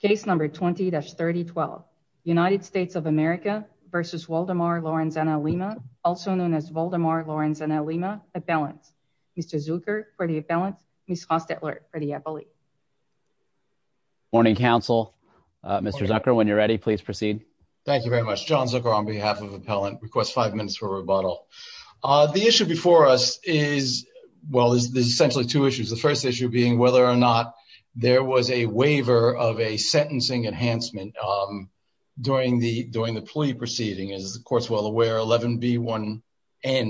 case number 20-3012. United States of America v. Waldemar Lorenzana-Lima also known as Waldemar Lorenzana-Lima appellant. Mr. Zucker for the appellant, Ms. Rostetler for the appellate. Morning, counsel. Mr. Zucker, when you're ready, please proceed. Thank you very much. John Zucker on behalf of the appellant requests five minutes for rebuttal. The issue before us is, well, there's essentially two issues. The first issue being whether or not there was a sentencing enhancement during the plea proceeding. As the court's well aware, 11b1n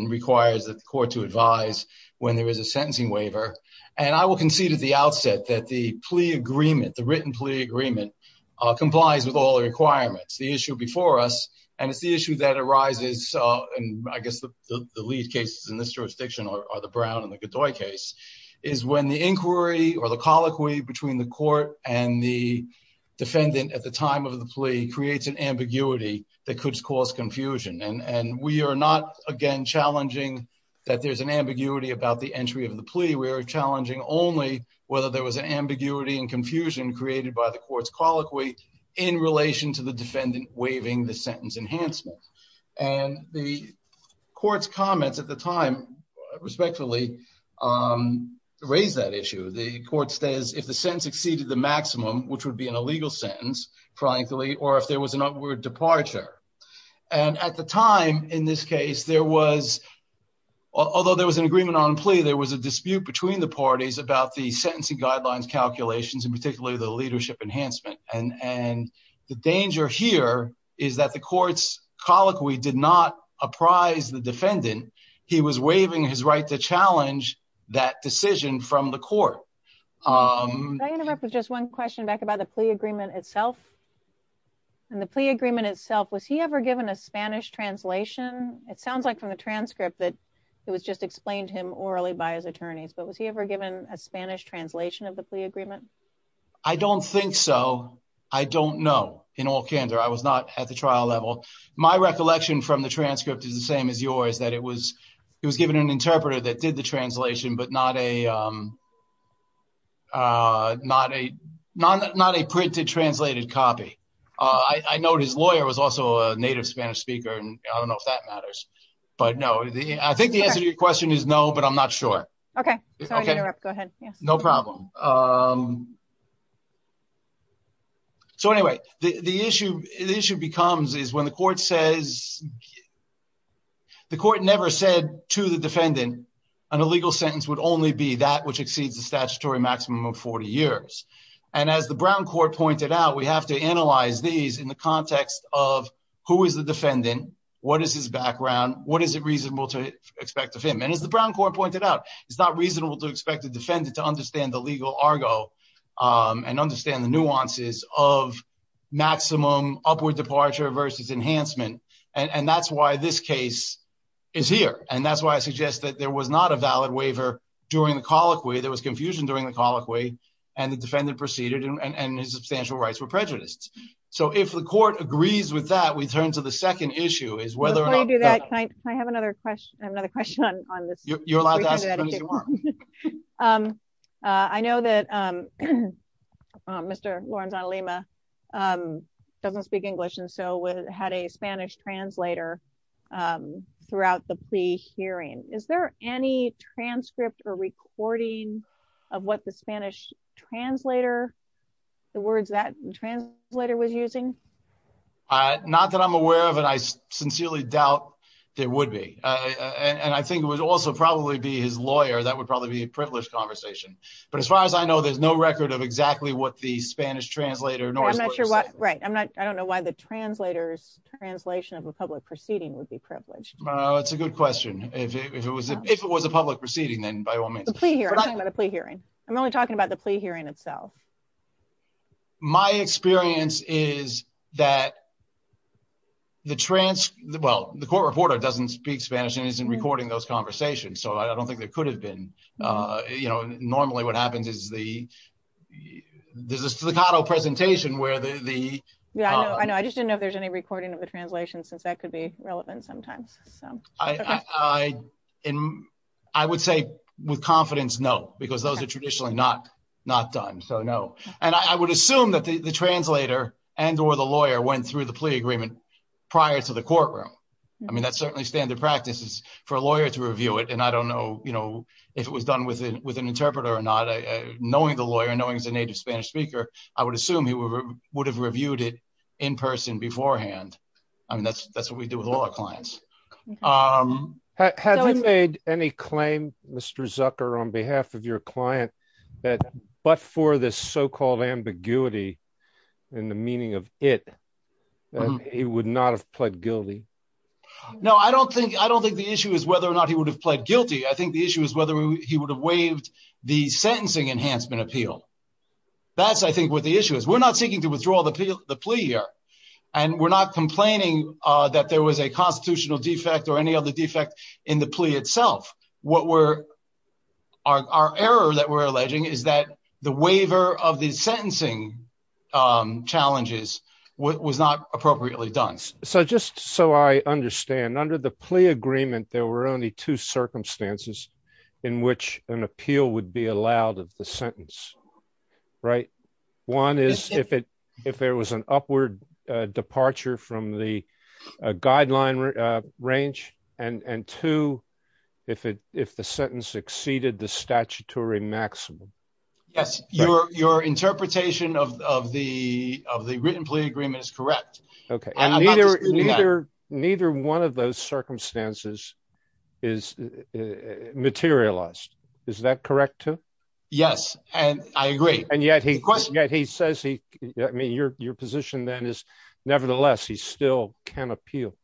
requires the court to advise when there is a sentencing waiver. And I will concede at the outset that the plea agreement, the written plea agreement, complies with all the requirements. The issue before us, and it's the issue that arises, and I guess the lead cases in this jurisdiction are the Brown and the Godoy case, is when the inquiry or the colloquy between the defendant at the time of the plea creates an ambiguity that could cause confusion. And we are not, again, challenging that there's an ambiguity about the entry of the plea. We are challenging only whether there was an ambiguity and confusion created by the court's colloquy in relation to the defendant waiving the sentence enhancement. And the court's comments at the time, respectfully, raise that issue. The court says if the sentence exceeded the maximum, which would be an illegal sentence, frankly, or if there was an upward departure. And at the time, in this case, there was, although there was an agreement on plea, there was a dispute between the parties about the sentencing guidelines, calculations, and particularly the leadership enhancement. And the danger here is that the court's colloquy did not apprise the defendant. He was waiving his right to challenge that decision from the court. Just one question back about the plea agreement itself. In the plea agreement itself, was he ever given a Spanish translation? It sounds like from the transcript that it was just explained to him orally by his attorneys. But was he ever given a Spanish translation of the plea agreement? I don't think so. I don't know, in all candor. I was not at the trial level. My recollection from the transcript is the same as yours, that it was given an not a printed, translated copy. I know his lawyer was also a native Spanish speaker, and I don't know if that matters. But no, I think the answer to your question is no, but I'm not sure. Okay, sorry to interrupt. Go ahead. No problem. So anyway, the issue becomes is when the court says, the court never said to the defendant, an illegal sentence would only be that which exceeds the statutory maximum of 40 years. And as the Brown Court pointed out, we have to analyze these in the context of who is the defendant? What is his background? What is it reasonable to expect of him? And as the Brown Court pointed out, it's not reasonable to expect the defendant to understand the legal Argo and understand the nuances of maximum upward departure versus enhancement. And that's why this case is here. And that's why I suggest that there was not a valid waiver during the colloquy, there was confusion during the colloquy, and the defendant proceeded and his substantial rights were prejudiced. So if the court agrees with that, we turn to the second issue is whether or not I have another question. I have another question on this. I know that Mr. Lorenzo Lima doesn't speak English. And so we had a Spanish translator throughout the pre hearing, is there any transcript or recording of what the Spanish translator, the words that translator was using? Not that I'm aware of. And I sincerely doubt there would be. And I think it would also probably be his lawyer, that would probably be a privileged conversation. But as far as I know, there's no record of exactly what the Spanish translator nor right, I'm not, I don't know why the translators translation of a public proceeding would be privileged. It's a good question. If it was, if it was a public proceeding, then by all means, the plea hearing, I'm only talking about the plea hearing itself. My experience is that the trans, well, the court reporter doesn't speak Spanish and isn't recording those conversations. So I don't think there could have been, you know, normally, what happens is the there's a staccato presentation where the Yeah, I know, I just didn't know if there's any recording of the translation, since that could be relevant sometimes. So I, in, I would say, with confidence, no, because those are traditionally not, not done. So no. And I would assume that the translator and or the lawyer went through the plea agreement prior to the courtroom. I mean, that's certainly standard practices for a lawyer to review it. And I don't know, you know, if it was done with with an interpreter or not, knowing the lawyer knowing as a Spanish speaker, I would assume he would have reviewed it in person beforehand. I mean, that's, that's what we do with a lot of clients. Have you made any claim, Mr. Zucker, on behalf of your client, that but for this so called ambiguity, in the meaning of it, he would not have pled guilty? No, I don't think I don't think the issue is whether or not he would have pled guilty. I think the issue is whether he would have waived the that's, I think what the issue is, we're not seeking to withdraw the appeal, the plea here. And we're not complaining that there was a constitutional defect or any other defect in the plea itself. What we're our error that we're alleging is that the waiver of the sentencing challenges was not appropriately done. So just so I understand, under the plea agreement, there were only two right? One is if it if there was an upward departure from the guideline range, and two, if it if the sentence exceeded the statutory maximum. Yes, your your interpretation of the of the written plea agreement is correct. Okay. And neither, neither, neither one of those circumstances is materialized. Is that correct, too? Yes. And I agree. And yet he question that he says he, I mean, your your position then is, nevertheless, he still can appeal.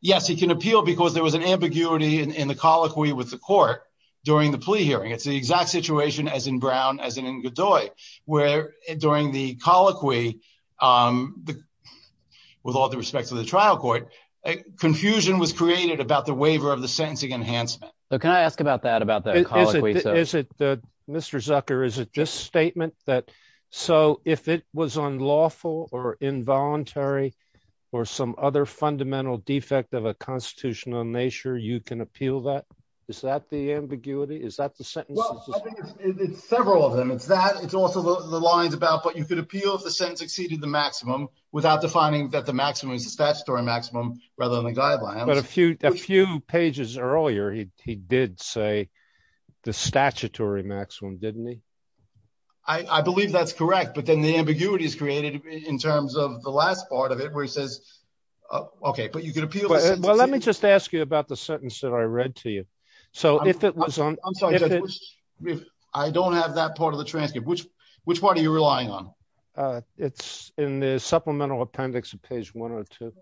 Yes, he can appeal because there was an ambiguity in the colloquy with the court during the plea hearing. It's the exact situation as in Brown, as in Godoy, where during the colloquy, with all due respect to the trial court, confusion was created about the waiver of the sentencing enhancement. Can I ask about that about that? Is it Mr. Zucker? Is it this statement that so if it was unlawful or involuntary, or some other fundamental defect of a constitutional nature, you can appeal that? Is that the ambiguity? Is that the sentence? It's several of them. It's that it's also the lines about what you could appeal if the sentence exceeded the maximum without defining that the maximum is the statutory maximum rather than the guideline. But a few a few pages earlier, he did say the statutory maximum, didn't he? I believe that's correct, but then the ambiguity is created in terms of the last part of it where he says, okay, but you could appeal. Well, let me just ask you about the sentence that I read to you. So if it was on, I don't have that part of the transcript, which which part are you relying on? It's in the supplemental appendix of page 102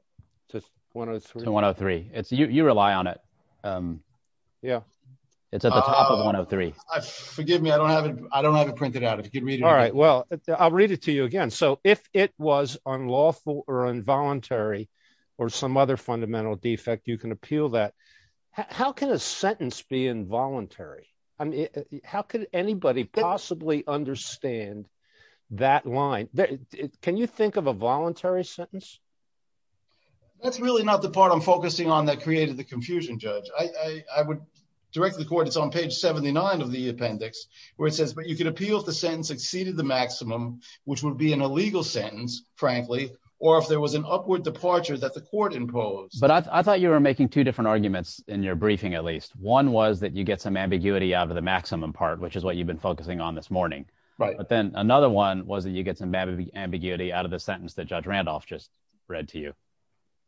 to 103. It's you you rely on it. Yeah, it's at the top of 103. Forgive me, I don't have it. I don't have it printed out. All right. Well, I'll read it to you again. So if it was unlawful or involuntary, or some other fundamental defect, you can appeal that. How can a sentence be involuntary? I mean, sentence? That's really not the part I'm focusing on that created the confusion, Judge. I would direct the court. It's on page 79 of the appendix, where it says, but you can appeal if the sentence exceeded the maximum, which would be an illegal sentence, frankly, or if there was an upward departure that the court imposed. But I thought you were making two different arguments in your briefing, at least. One was that you get some ambiguity out of the maximum part, which is what you've been focusing on this morning. Right. But then another one was that you get some ambiguity out of the sentence that Judge Randolph just read to you.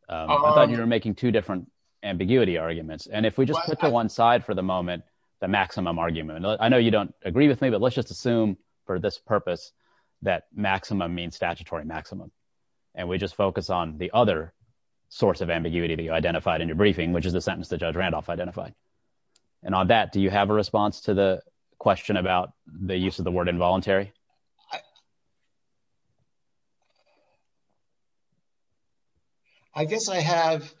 I thought you were making two different ambiguity arguments. And if we just put to one side for the moment, the maximum argument, I know you don't agree with me, but let's just assume for this purpose, that maximum means statutory maximum. And we just focus on the other source of ambiguity that you identified in your briefing, which is the sentence that Judge Randolph identified. And on that, do you have a response to the question about the use of the word involuntary? I guess I have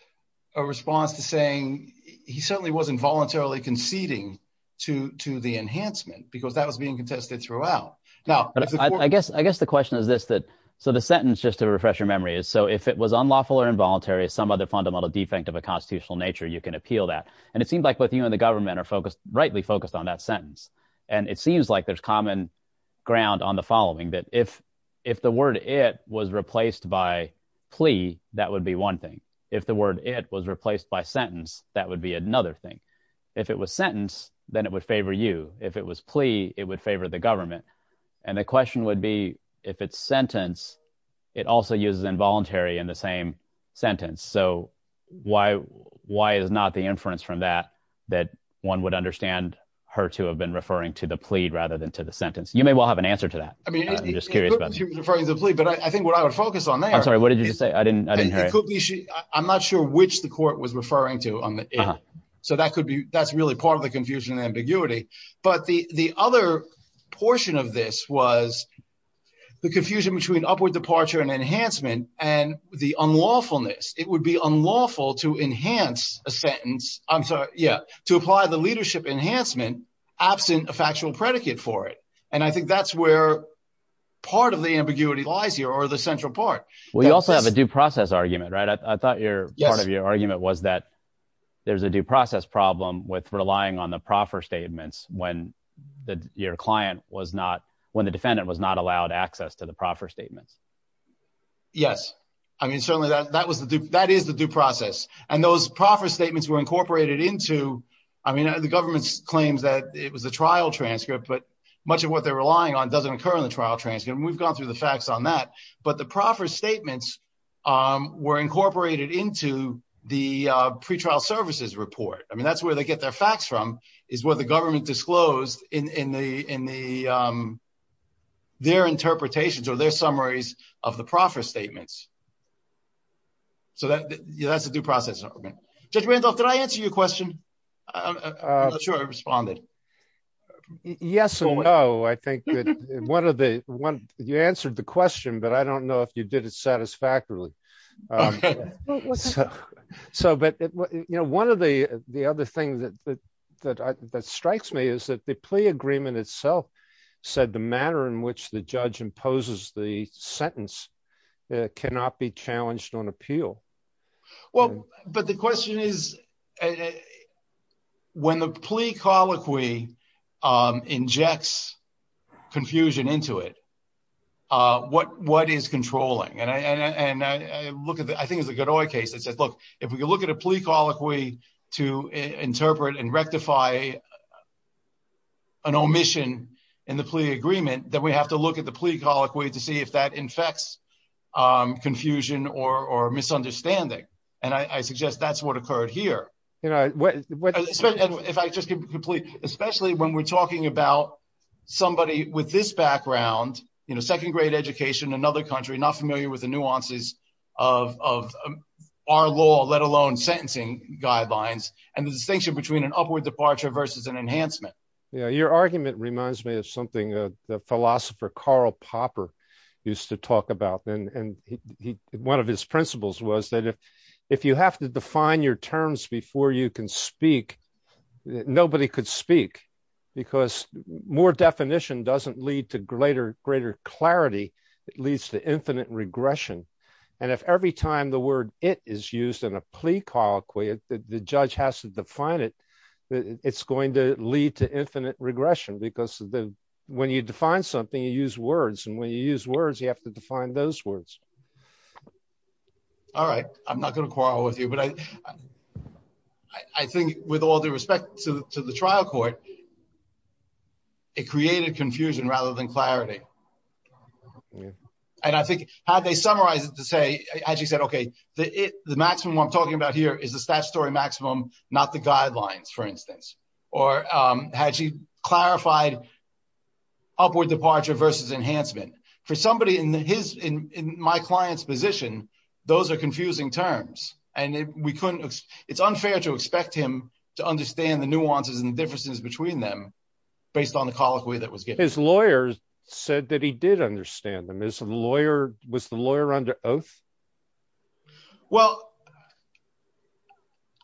a response to saying he certainly wasn't voluntarily conceding to to the enhancement because that was being contested throughout. Now, I guess I guess the question is this that so the sentence just to refresh your memory is so if it was unlawful or involuntary, some other fundamental defect of a constitutional nature, you can appeal that. And it seems like both you and the government are focused rightly focused on that sentence. And it seems like there's common ground on the following that if if the word it was replaced by plea, that would be one thing. If the word it was replaced by sentence, that would be another thing. If it was sentence, then it would favor you. If it was plea, it would favor the government. And the question would be, if it's sentence, it also uses involuntary in the same sentence. So why? Why is not the inference from that, that one would understand her to have been referring to the plea rather than to the sentence? You may well have an answer to that. I'm just curious about the plea. But I think what I would focus on, I'm sorry, what did you say? I didn't I didn't hear it. I'm not sure which the court was referring to on the air. So that could be that's really part of the confusion and ambiguity. But the the other portion of this was the confusion between upward departure and enhancement and the unlawfulness, it would be unlawful to enhance a sentence. I'm sorry, yeah, to apply the leadership enhancement absent a factual predicate for it. And I think that's where part of the ambiguity lies here or the central part. Well, you also have a due process argument, right? I thought your part of your argument was that there's a due process problem with relying on the proffer statements when the your client was not when the defendant was not allowed access to the proffer statements. Yes, I mean, certainly that that was the that is the due process. And those proffer statements were incorporated into I mean, the government's claims that it was a trial transcript, but much of what they're relying on doesn't occur in the trial transcript. And we've gone through the facts on that. But the proffer statements were incorporated into the pretrial services report. I mean, that's where they get their facts from is where the government disclosed in the in the their interpretations or their summaries of the proffer statements. So that's the due process. Judge Randolph, did I answer your question? I'm not sure I responded. Yes, or no, I think that one of the one you answered the question, but I don't know if you did it satisfactorily. So but, you know, one of the the other things that that strikes me is that the plea agreement itself said the manner in which the judge imposes the sentence cannot be challenged on appeal. Well, but the question is, when the plea colloquy injects confusion into it, what what is controlling and I look at the I think it's a good oil case that says, look, if we can look at a plea colloquy to interpret and rectify an omission in the plea agreement, then we have to look at the plea colloquy to see if that infects confusion or misunderstanding. And I suggest that's what occurred here. You know what, if I just complete, especially when we're talking about somebody with this background, you know, second grade education, another country not familiar with the nuances of our law, let alone sentencing guidelines, and the distinction between an upward departure versus an upward departure. And that's something the philosopher Karl Popper used to talk about. And one of his principles was that if, if you have to define your terms before you can speak, nobody could speak, because more definition doesn't lead to greater, greater clarity, it leads to infinite regression. And if every time the word it is used in a plea colloquy, the judge has to define it, that it's going to lead to infinite regression, because when you define something, you use words, and when you use words, you have to define those words. All right, I'm not going to quarrel with you. But I think with all due respect to the trial court, it created confusion rather than clarity. And I think how they summarize it to say, as you said, okay, the maximum I'm talking about here is the guidelines, for instance, or had she clarified upward departure versus enhancement for somebody in his in my client's position, those are confusing terms. And we couldn't, it's unfair to expect him to understand the nuances and differences between them, based on the colloquy that was given. His lawyers said that he did understand them as a lawyer, was the lawyer under oath? Well,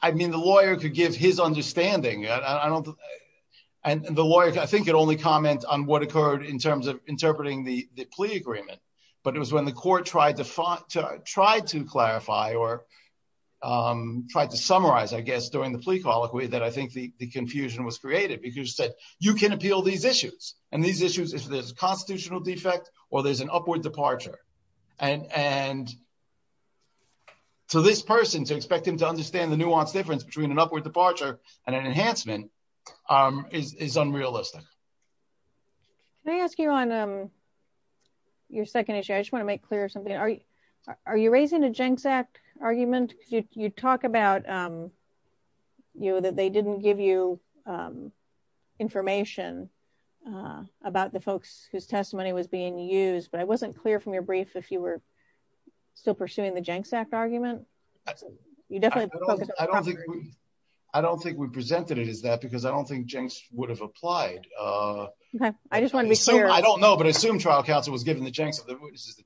I mean, the lawyer could give his understanding, and the lawyer, I think it only comment on what occurred in terms of interpreting the plea agreement. But it was when the court tried to try to clarify or tried to summarize, I guess, during the plea colloquy that I think the confusion was created, because you can appeal these issues, and these issues if there's a constitutional defect, or there's an upward departure, and to this person to expect him to understand the nuanced difference between an upward departure and an enhancement is unrealistic. Can I ask you on your second issue, I just want to make clear something, are you raising a Genk's Act argument? You talk about, you know, that they didn't give you information about the folks whose testimony was being used, but I wasn't clear from your brief, if you were still pursuing the Genk's Act argument. I don't think we presented it as that, because I don't think Genk's would have applied. I just want to be clear. I don't know, but I assume trial counsel was given the Genk's of the witnesses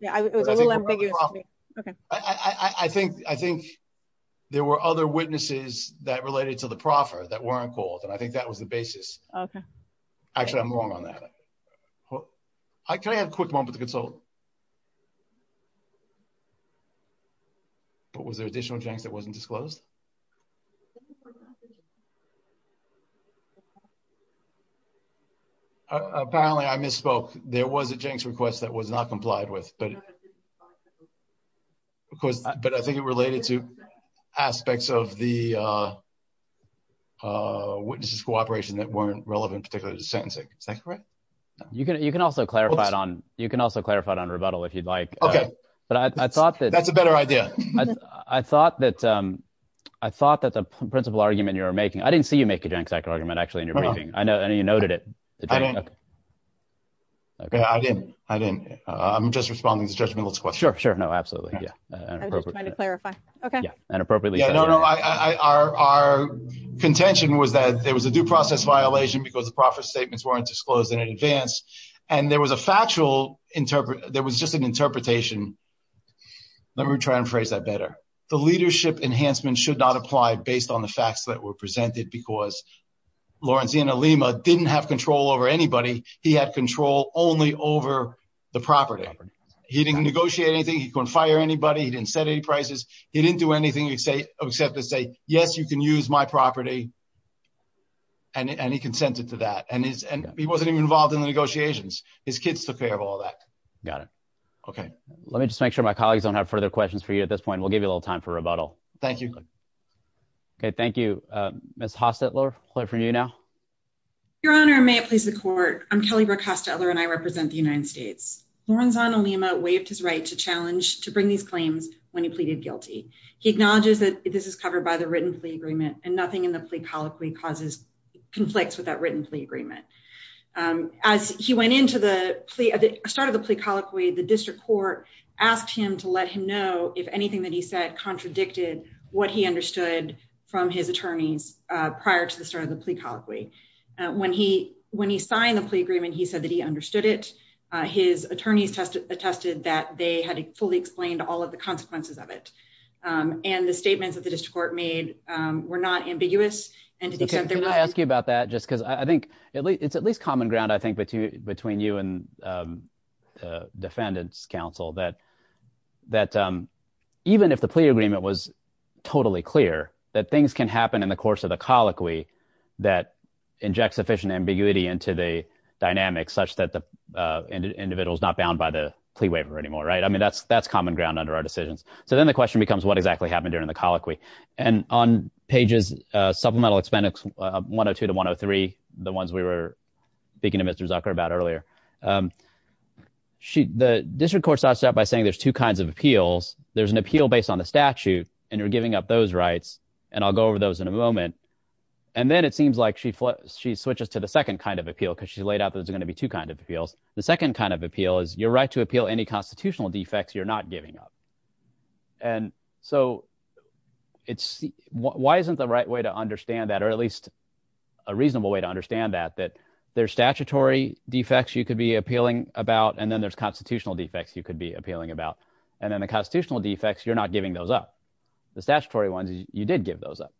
Yeah, it was a little ambiguous to me. Okay, I think, I think there were other witnesses that related to the proffer that weren't called, and I think that was the basis. Actually, I'm wrong on that. I can have a quick moment to consult. But was there additional Genk's that wasn't disclosed? Apparently, I misspoke. There was a Genk's request that was not complied with. Of course, but I think it related to aspects of the witnesses cooperation that weren't relevant, particularly to sentencing. Is that correct? You can, you can also clarify it on, you can also clarify it on rebuttal if you'd like. Okay. But I thought that's a better idea. I thought that, I thought that the principal argument you're making, I didn't see you make a Genk's Act argument, actually, in your briefing. I know, I know you noted it. Okay, I didn't. I didn't. I'm just responding to Judge Middleton's question. Sure, sure. No, absolutely. Yeah. I'm just trying to clarify. Okay. Yeah. And appropriately. Yeah, no, no, I, I, our, our contention was that there was a due process violation because the profit statements weren't disclosed in advance and there was a factual interpret, there was just an interpretation. Let me try and phrase that better. The leadership enhancement should not apply based on the facts that were presented because Lorenzina Lima didn't have control over anybody. He had control only over the property. He didn't negotiate anything. He couldn't fire anybody. He didn't set any prices. He didn't do anything except to say, yes, you can use my property. And, and he consented to that and his, and he wasn't even involved in the negotiations. His kids took care of all that. Got it. Okay. Let me just make sure my colleagues don't have further questions for you at this point. We'll give you a little time for rebuttal. Thank you. Okay. Thank you. Um, Ms. Hostetler, we'll hear from you now. Your honor, may it please the court. I'm Kelly Brooke Hostetler and I represent the United States. Lorenzina Lima waived his right to challenge, to bring these claims when he pleaded guilty. He acknowledges that this is covered by the written plea agreement and nothing in the plea colloquy causes conflicts with that written plea agreement. Um, as he went into the plea, the start of the plea colloquy, the district court asked him to let him know if anything that he said contradicted what he understood from his attorneys, uh, prior to the start of the plea colloquy, uh, when he, when he signed the plea agreement, he said that he attorneys tested, attested that they had fully explained all of the consequences of it. Um, and the statements that the district court made, um, were not ambiguous and to the extent they're not. Can I ask you about that? Just cause I think at least it's at least common ground, I think, between you and, um, uh, defendants council that, that, um, even if the plea agreement was totally clear that things can happen in the course of the colloquy that inject sufficient ambiguity into the dynamics such that the, uh, individual is not bound by the plea waiver anymore. Right. I mean, that's, that's common ground under our decisions. So then the question becomes what exactly happened during the colloquy and on pages, uh, supplemental expenditure, uh, one Oh two to one Oh three, the ones we were speaking to Mr. Zucker about earlier. Um, she, the district court starts out by saying there's two kinds of appeals. There's an appeal based on the statute and you're giving up those rights. And I'll go over those in a moment. And then it seems like she, she switches to the second kind of appeal because she laid out that there's going to be two kinds of appeals. The second kind of appeal is your right to appeal any constitutional defects you're not giving up. And so it's, why isn't the right way to understand that, or at least a reasonable way to understand that, that there's statutory defects you could be appealing about, and then there's constitutional defects you could be appealing about, and then the constitutional defects, you're not giving those up, the statutory ones, you did give those up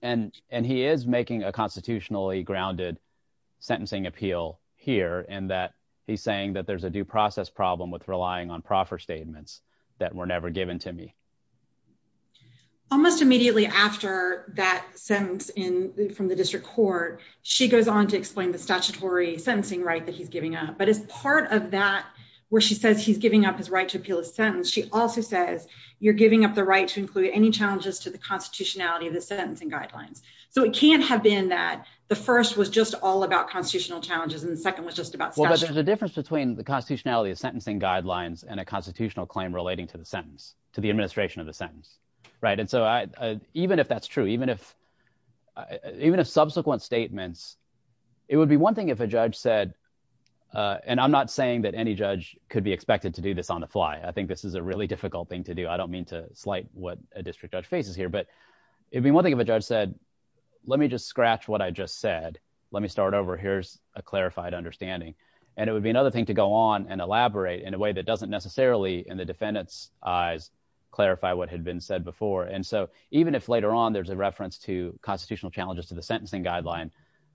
and, and he is making a constitutionally grounded sentencing appeal here, and that he's saying that there's a due process problem with relying on proffer statements that were never given to me. Almost immediately after that sentence in the, from the district court, she goes on to explain the statutory sentencing right that he's giving up. But as part of that, where she says he's giving up his right to appeal a sentence, she also says you're giving up the right to include any challenges to the constitutionality of the sentencing guidelines. So it can't have been that the first was just all about constitutional challenges and the second was just about. Well, but there's a difference between the constitutionality of sentencing guidelines and a constitutional claim relating to the sentence, to the administration of the sentence, right? And so I, even if that's true, even if, even if subsequent statements, it would be one thing if a judge said, and I'm not saying that any judge could be expected to do this on the fly. I think this is a really difficult thing to do. I don't mean to slight what a district judge faces here, but it'd be one thing if a judge said, let me just scratch what I just said, let me start over. Here's a clarified understanding. And it would be another thing to go on and elaborate in a way that doesn't necessarily in the defendant's eyes, clarify what had been said before. And so even if later on, there's a reference to constitutional challenges to the sentencing guideline,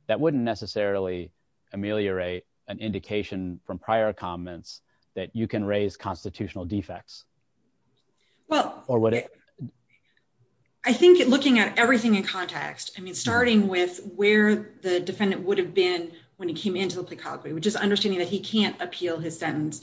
that wouldn't necessarily ameliorate an indication from prior comments that you can raise constitutional defects. Well, I think looking at everything in context, I mean, starting with where the defendant would have been when he came into the plea colloquy, which is understanding that he can't appeal his sentence,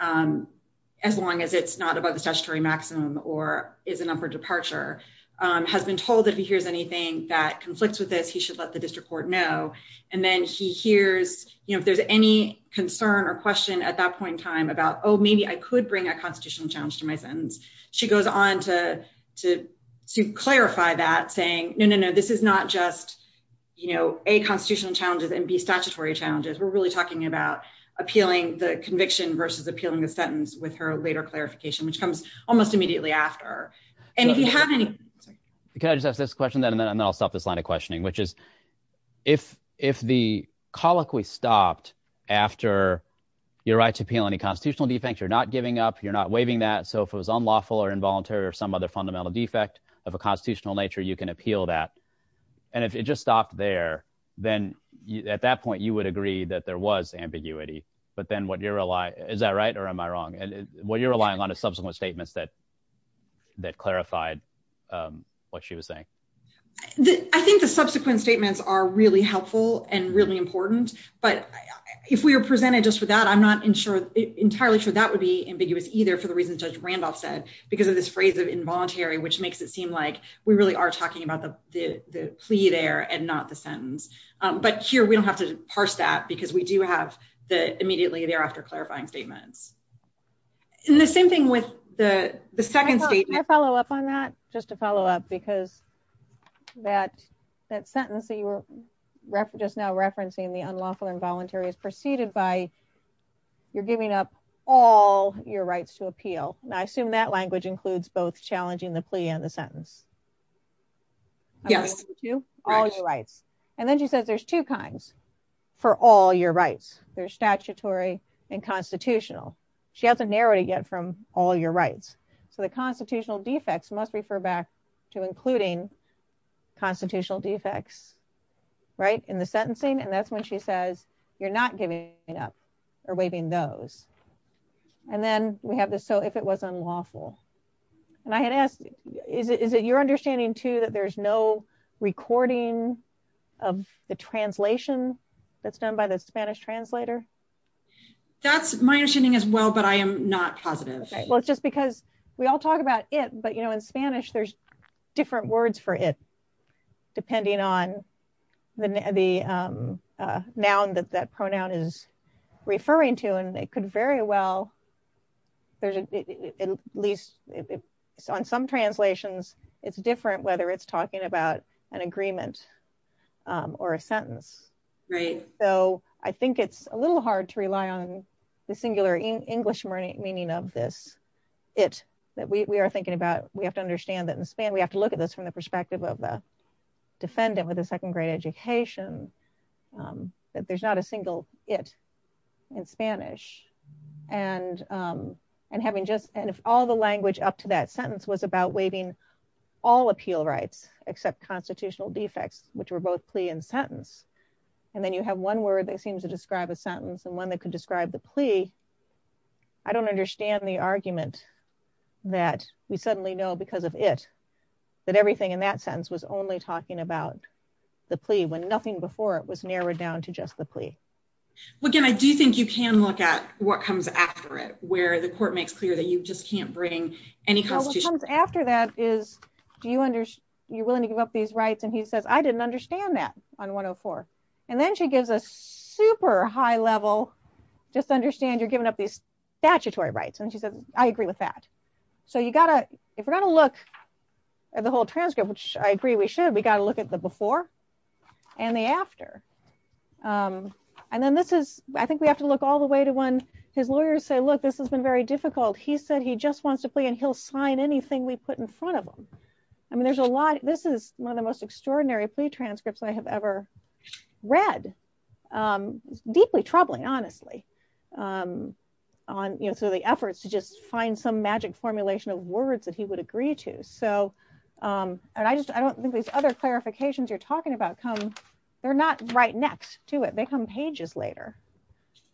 as long as it's not about the statutory maximum or is an upper departure, has been told that if he hears anything that conflicts with this, he should let the district court know. And then he hears, you know, if there's any concern or question at that point in time about, oh, maybe I could bring a constitutional challenge to my sentence. She goes on to, to, to clarify that saying, no, no, no, this is not just. You know, a constitutional challenges and be statutory challenges. We're really talking about appealing the conviction versus appealing the sentence with her later clarification, which comes almost immediately after. And if you have any, can I just ask this question then? And then I'll stop this line of questioning, which is if, if the plea colloquy stopped after you're right to appeal any constitutional defects, you're not giving up, you're not waiving that. So if it was unlawful or involuntary or some other fundamental defect of a constitutional nature, you can appeal that. And if it just stopped there, then at that point you would agree that there was ambiguity. But then what you're relying, is that right? Or am I wrong? And what you're relying on a subsequent statements that, that clarified what she was saying. I think the subsequent statements are really helpful and really important, but if we were presented just for that, I'm not insured entirely sure that would be ambiguous either for the reasons judge Randolph said, because of this phrase of involuntary, which makes it seem like we really are talking about the, the plea there and not the sentence. But here we don't have to parse that because we do have the immediately thereafter clarifying statements. And the same thing with the second statement. Can I follow up on that just to follow up, because that, that is now referencing the unlawful involuntary is preceded by you're giving up all your rights to appeal. And I assume that language includes both challenging the plea and the sentence. Yes. All your rights. And then she says, there's two kinds for all your rights. There's statutory and constitutional. She has a narrative yet from all your rights. So the constitutional defects must refer back to including constitutional defects. Right. In the sentencing. And that's when she says you're not giving up or waving those. And then we have this. So if it was unlawful and I had asked, is it, is it your understanding too, that there's no recording of the translation that's done by the Spanish translator? That's my understanding as well, but I am not positive. Well, it's just because we all talk about it, but you know, in Spanish, there's different words for it, depending on the, the noun that that pronoun is referring to. And it could very well, there's at least on some translations, it's different whether it's talking about an agreement or a sentence. Right. So I think it's a little hard to rely on the singular English meaning of this it that we are thinking about. We have to understand that in Spain, we have to look at this from the perspective of the defendant with a second grade education that there's not a single it in Spanish and and having just, and if all the language up to that sentence was about waiving all appeal rights, except constitutional defects, which were both plea and sentence. And then you have one word that seems to describe a sentence and one that could describe the plea. I don't understand the argument that we suddenly know because of it, that everything in that sentence was only talking about the plea when nothing before it was narrowed down to just the plea. Well, again, I do think you can look at what comes after it, where the court makes clear that you just can't bring any constitution. After that is, do you under, you're willing to give up these rights? And he says, I didn't understand that on 104. And then she gives a super high level, just understand you're giving up these statutory rights. And she said, I agree with that. So you gotta, if we're going to look at the whole transcript, which I agree we should, we got to look at the before and the after. And then this is, I think we have to look all the way to when his lawyers say, look, this has been very difficult. He said, he just wants to play and he'll sign anything we put in front of them. I mean, there's a lot, this is one of the most extraordinary plea transcripts I have ever read, deeply troubling, honestly, on, you know, through the efforts to just find some magic formulation of words that he would agree to. So, and I just, I don't think these other clarifications you're talking about come, they're not right next to it. They come pages later.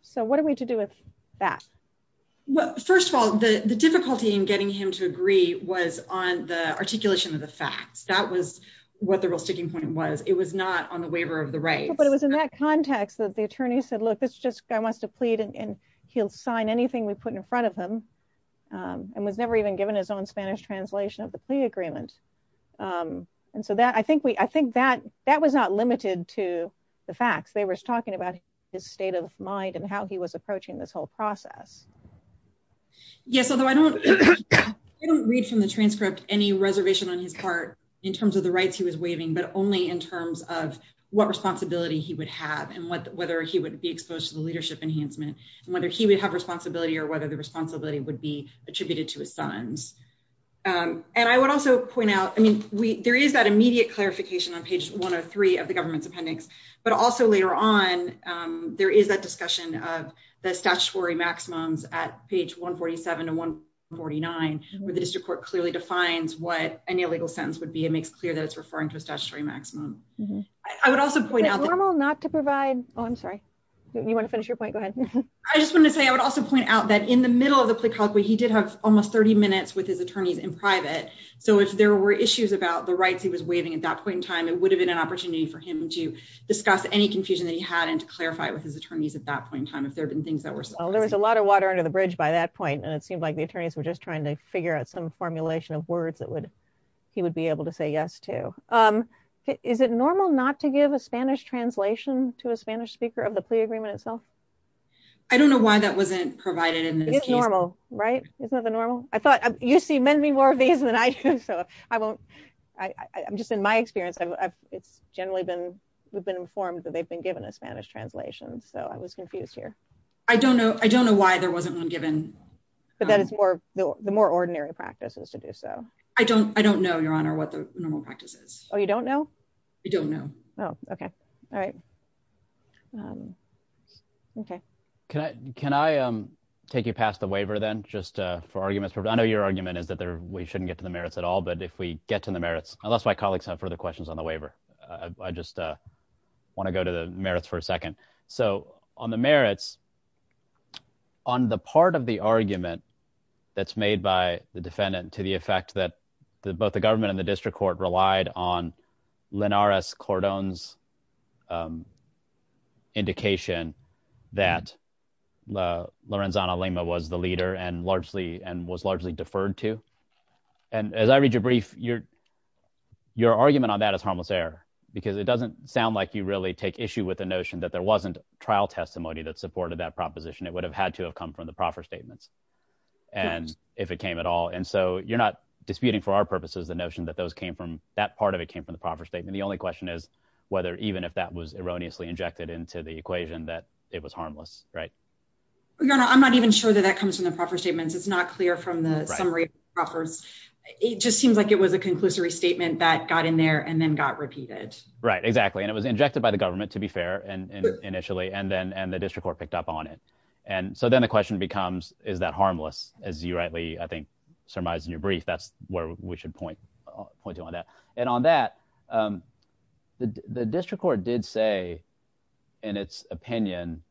So what are we to do with that? Well, first of all, the difficulty in getting him to agree was on the articulation of the facts. That was what the real sticking point was. It was not on the waiver of the rights. But it was in that context that the attorney said, look, it's just, I want us to plead and he'll sign anything we put in front of him. And was never even given his own Spanish translation of the plea agreement. And so that, I think we, I think that, that was not limited to the facts. They were talking about his state of mind and how he was approaching this whole process. Yes. Although I don't, I don't read from the transcript any reservation on his part in terms of the rights he was waiving, but only in terms of what responsibility he would have and what, whether he would be exposed to the leadership enhancement and whether he would have responsibility or whether the responsibility would be attributed to his sons. And I would also point out, I mean, we, there is that immediate clarification on page one or three of the government's appendix, but also later on, there is that discussion of the statutory maximums at page 147 to 149, where the district court clearly defines what any illegal sentence would be. It makes clear that it's referring to a statutory maximum. I would also point out. It's normal not to provide. Oh, I'm sorry. You want to finish your point? Go ahead. I just wanted to say, I would also point out that in the middle of the plea colloquy, he did have almost 30 minutes with his attorneys in private. So if there were issues about the rights he was waiving at that point in time, it would have been an opportunity for him to discuss any confusion that he had and to clarify with his attorneys at that point in time, if there'd been things that were. Well, there was a lot of water under the bridge by that point. And it seemed like the attorneys were just trying to figure out some formulation of words that would, he would be able to say yes to, um, is it normal not to give a Spanish translation to a Spanish speaker of the plea agreement itself? I don't know why that wasn't provided. And it's normal, right? Isn't that the normal? I thought you see many more of these than I do. So I won't, I I'm just in my experience. I've it's generally been, we've been informed that they've been given a Spanish translation. So I was confused here. I don't know. I don't know why there wasn't one given, but then it's more, the more ordinary practices to do. So I don't, I don't know your honor, what the normal practice is. Oh, you don't know? I don't know. Oh, okay. All right. Um, okay. Can I, can I, um, take you past the waiver then just, uh, for arguments for, I know your argument is that there, we shouldn't get to the merits at all, but if we get to the merits, unless my colleagues have further questions on the waiver, uh, I just, uh, want to go to the merits for a second. So on the merits on the part of the argument that's made by the defendant to the effect that the, both the government and the district court relied on Linares Cordon's, um, indication that, uh, Lorenzana Lima was the leader and largely, and was largely deferred to, and as I read your brief, your, your argument on that as harmless error, because it doesn't sound like you really take issue with the notion that there wasn't trial testimony that supported that proposition. It would have had to have come from the proffer statements. And if it came at all, and so you're not disputing for our purposes, the notion that those came from that part of it came from the proffer statement. The only question is whether, even if that was erroneously injected into the equation, that it was harmless, right? Well, your honor, I'm not even sure that that comes from the proffer statements. It's not clear from the summary offers. It just seems like it was a conclusory statement that got in there and then got repeated. Right. Exactly. And it was injected by the government to be fair and initially, and then, and the district court picked up on it. And so then the question becomes, is that harmless as you rightly, I think surmise in your brief, that's where we should point, point you on that. And on that, um, the district court did say in its opinion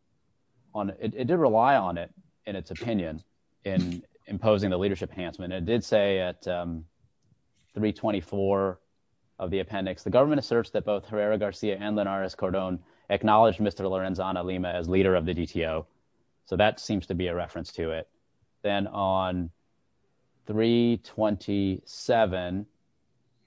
on it, it did rely on it and its opinion in imposing the leadership enhancement, it did say at, um, three 24 of the appendix, the government asserts that both Herrera Garcia and Linares Cordon acknowledged Mr. Lorenzana Lima as leader of the DTO. So that seems to be a reference to it. Then on three 27,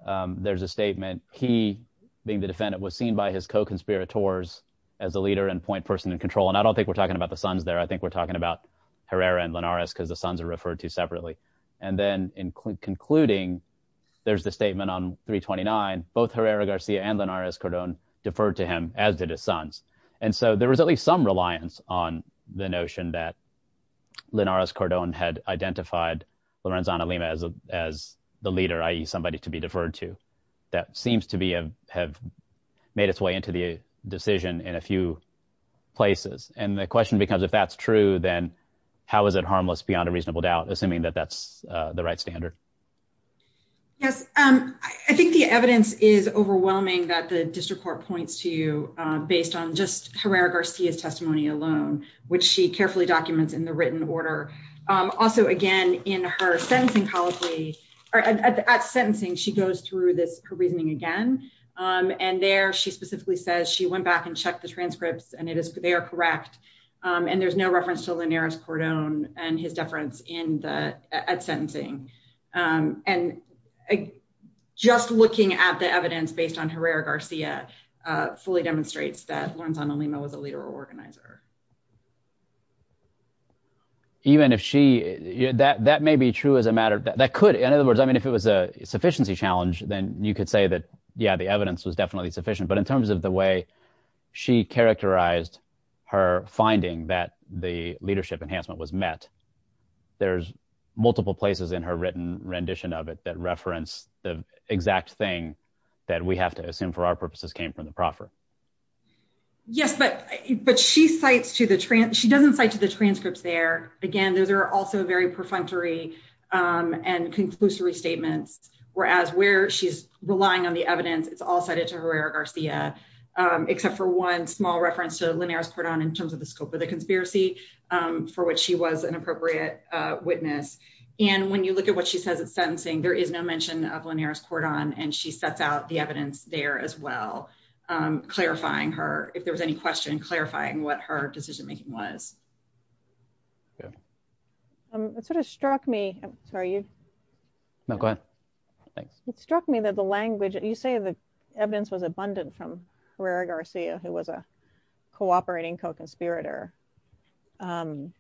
um, there's a statement. He being the defendant was seen by his co-conspirators as a leader and point person in control. And I don't think we're talking about the sons there. I think we're talking about Herrera and Linares cause the sons are referred to separately. And then in concluding, there's the statement on three 29, both Herrera Garcia and Linares Cordon deferred to him as did his sons. And so there was at least some reliance on the notion that Linares Cordon had identified Lorenzana Lima as a, as the leader, IE somebody to be deferred to that seems to be a, have made its way into the decision in a few places. And the question becomes, if that's true, then how is it harmless beyond a reasonable doubt, assuming that that's the right standard? Yes. Um, I think the evidence is overwhelming that the district court points to, uh, based on just Herrera Garcia's testimony alone, which she carefully documents in the written order. Um, also again, in her sentencing policy or at sentencing, she goes through this, her reasoning again. Um, and there she specifically says she went back and checked the transcripts and it is, they are correct. Um, and there's no reference to Linares Cordon and his deference in the, at sentencing. Um, and just looking at the evidence based on Herrera Garcia, uh, fully demonstrates that Lorenzana Lima was a leader or organizer. Even if she, that, that may be true as a matter that could, in other words, I mean, if it was a sufficiency challenge, then you could say that, yeah, the evidence was definitely sufficient, but in terms of the way she characterized her finding that the leadership enhancement was met, there's multiple places in her written rendition of it that reference the exact thing that we have to assume for our purposes came from the proffer. Yes, but, but she cites to the trans, she doesn't cite to the transcripts there. Again, those are also very perfunctory, um, and conclusory statements, whereas where she's relying on the evidence, it's all cited to Herrera Garcia, um, except for one small reference to Linares Cordon in terms of the scope of the conspiracy, um, for what she was an appropriate, uh, witness. And when you look at what she says at sentencing, there is no mention of Linares Cordon. And she sets out the evidence there as well. Um, clarifying her, if there was any question, clarifying what her decision making was. Um, it sort of struck me. Sorry, you know, go ahead. It struck me that the language, you say the evidence was abundant from Herrera Garcia, who was a cooperating co-conspirator, um,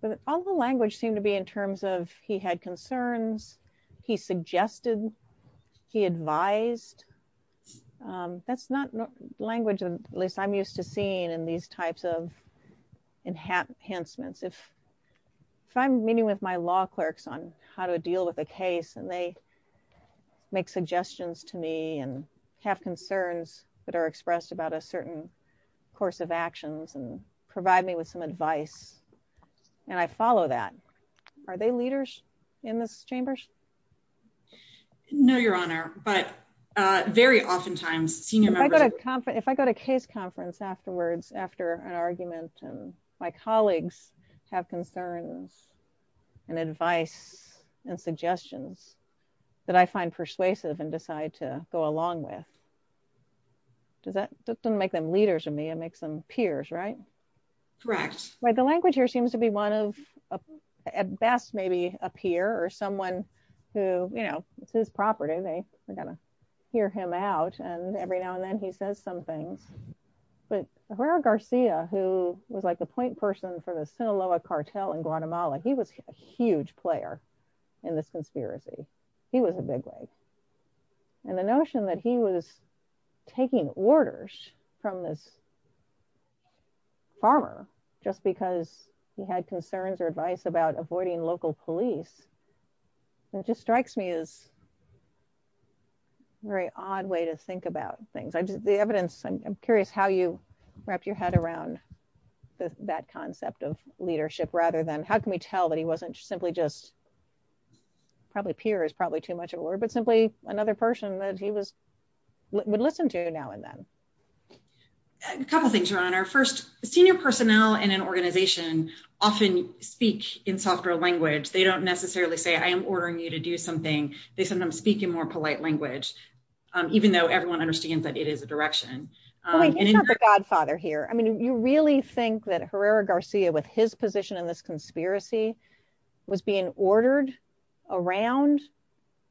but all the language seemed to be in terms of, he had concerns, he suggested, he advised, um, that's not language, at least I'm used to seeing in these types of enhancements. If, if I'm meeting with my law clerks on how to deal with a case and they make suggestions to me and have concerns that are expressed about a certain course of actions and provide me with some advice. And I follow that. Are they leaders in this chambers? No, Your Honor. But, uh, very oftentimes senior members, if I go to case conference afterwards, after an argument and my colleagues have concerns and advice and suggestions that I find persuasive and decide to go along with, does that, that doesn't make them leaders of me, it makes them peers, right? Correct. Right. The language here seems to be one of, at best, maybe a peer or someone who, you know, it's his property. They are going to hear him out. And every now and then he says some things, but Herrera Garcia, who was like the point person for the Sinaloa cartel in Guatemala, he was a huge player in this conspiracy. He was a bigwig. And the notion that he was taking orders from this farmer, just because he had concerns or advice about avoiding local police, it just strikes me as very odd way to think about things. I just, the evidence, I'm curious how you wrapped your head around that concept of leadership, rather than how can we tell that he wasn't simply just probably peers, probably too much of a word, but simply another person that he was, would listen to now and then. A couple of things, Your Honor. First, senior personnel in an organization often speak in softer language. They don't necessarily say, I am ordering you to do something. They sometimes speak in more polite language, even though everyone understands that it is a direction. Well, he's not the godfather here. I mean, you really think that Herrera Garcia, with his position in this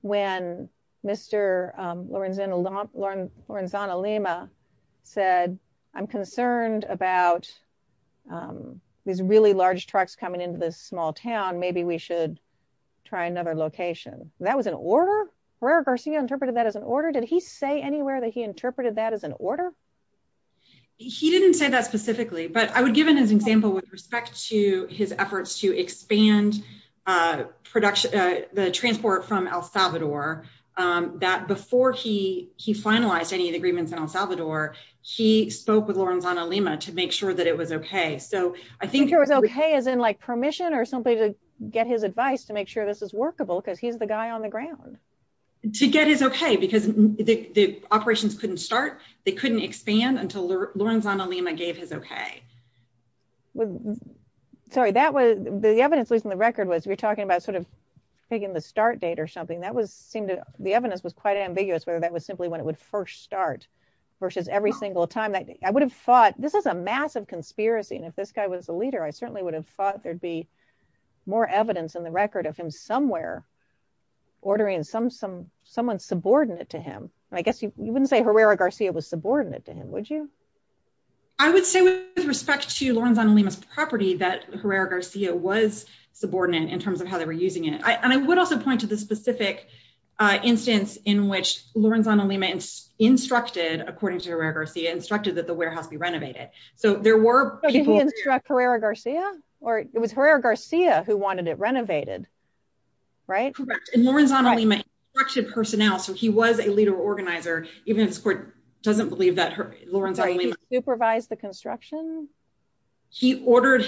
when Mr. Lorenzana Lima said, I'm concerned about these really large trucks coming into this small town. Maybe we should try another location. That was an order? Herrera Garcia interpreted that as an order? Did he say anywhere that he interpreted that as an order? He didn't say that specifically, but I would give an example with respect to his transport from El Salvador, that before he finalized any of the agreements in El Salvador, he spoke with Lorenzana Lima to make sure that it was OK. So I think it was OK as in like permission or something to get his advice to make sure this is workable because he's the guy on the ground. To get his OK, because the operations couldn't start. They couldn't expand until Lorenzana Lima gave his OK. Sorry, that was the evidence, at least on the record, was we're talking about sort of picking the start date or something that was seemed to the evidence was quite ambiguous, whether that was simply when it would first start versus every single time that I would have thought this is a massive conspiracy. And if this guy was a leader, I certainly would have thought there'd be more evidence in the record of him somewhere ordering someone subordinate to him. And I guess you wouldn't say Herrera Garcia was subordinate to him, would you? I would say with respect to Lorenzana Lima's property that Herrera Garcia was subordinate in terms of how they were using it. And I would also point to the specific instance in which Lorenzana Lima instructed, according to Herrera Garcia, instructed that the warehouse be renovated. So there were people who instruct Herrera Garcia or it was Herrera Garcia who wanted it renovated. Right, correct. And Lorenzana Lima instructed personnel. So he was a leader organizer. Even if the court doesn't believe that Lorenzana Lima supervised the construction, he only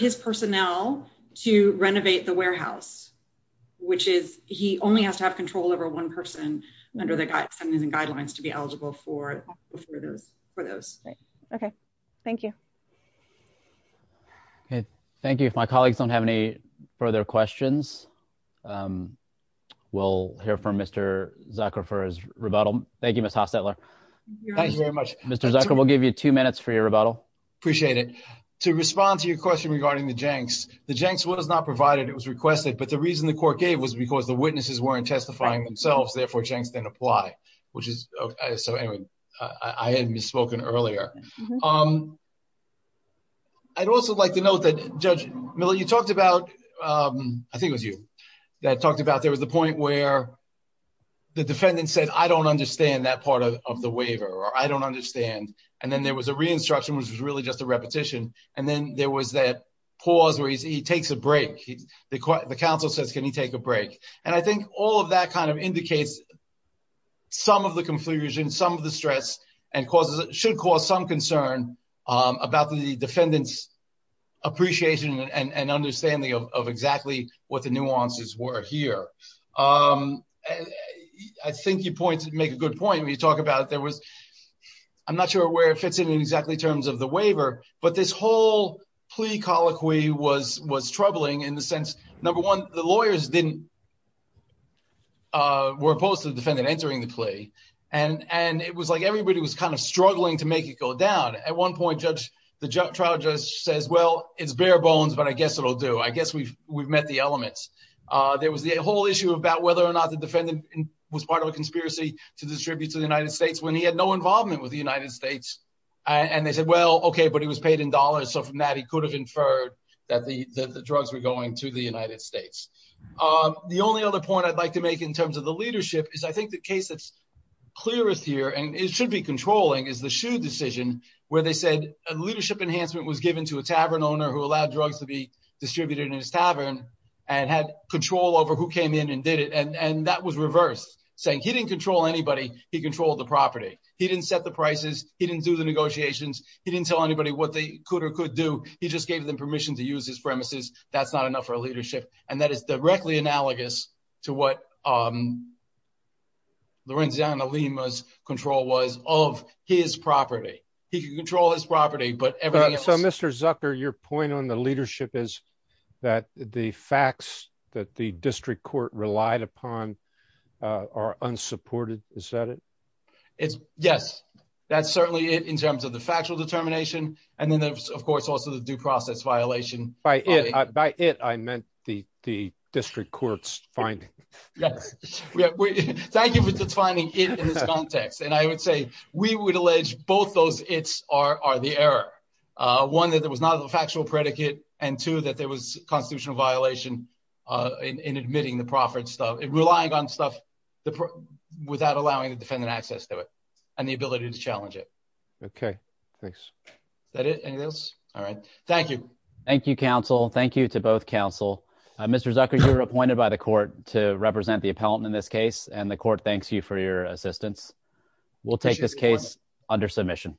has to have control over one person under the guidelines and guidelines to be eligible for those for those. OK, thank you. Thank you. If my colleagues don't have any further questions, we'll hear from Mr. Zucker for his rebuttal. Thank you, Ms. Hostetler. Thank you very much. Mr. Zucker, we'll give you two minutes for your rebuttal. Appreciate it. To respond to your question regarding the Jenks, the Jenks was not provided. It was requested. But the reason the court gave was because the witnesses weren't testifying themselves. Therefore, Jenks didn't apply, which is so I hadn't spoken earlier. I'd also like to note that, Judge Miller, you talked about I think it was you that talked about there was the point where the defendant said, I don't understand that part of the waiver or I don't understand. And then there was a re-instruction, which was really just a repetition. And then there was that pause where he takes a break. The counsel says, can you take a break? And I think all of that kind of indicates some of the confusion, some of the stress and causes it should cause some concern about the defendant's appreciation and understanding of exactly what the nuances were here. I think you point to make a good point when you talk about there was I'm not sure where it fits in exactly in terms of the waiver, but this whole plea colloquy was troubling in the sense, number one, the lawyers were opposed to the defendant entering the plea and it was like everybody was kind of struggling to make it go down. At one point, the trial judge says, well, it's bare bones, but I guess it'll do. I guess we've we've met the elements. There was the whole issue about whether or not the defendant was part of a conspiracy to distribute to the United States when he had no involvement with the United States. And they said, well, OK, but he was paid in dollars. So from that, he could have inferred that the drugs were going to the United States. The only other point I'd like to make in terms of the leadership is I think the case that's clearest here and it should be controlling is the shoe decision where they said a leadership enhancement was given to a tavern owner who allowed drugs to be distributed in his tavern and had control over who came in and did it. And that was reversed, saying he didn't control anybody. He controlled the property. He didn't set the prices. He didn't do the negotiations. He didn't tell anybody what they could or could do. He just gave them permission to use his premises. That's not enough for a leadership. And that is directly analogous to what. Lorenzana Lima's control was of his property. He could control his property, but so, Mr. Zucker, your point on the leadership is that the facts that the district court relied upon are unsupported. Is that it? It's yes. That's certainly it in terms of the factual determination. And then, of course, also the due process violation by it. By it, I meant the the district court's finding. Yes, we thank you for defining it in this context. And I would say we would allege both those. It's are the error. One, that there was not a factual predicate and two, that there was constitutional violation in admitting the profits of relying on stuff without allowing the defendant access to it and the ability to challenge it. OK, thanks. That is all right. Thank you. Thank you, counsel. Thank you to both counsel. Mr. Zucker, you were appointed by the court to represent the appellant in this case, and the court thanks you for your assistance. We'll take this case under submission.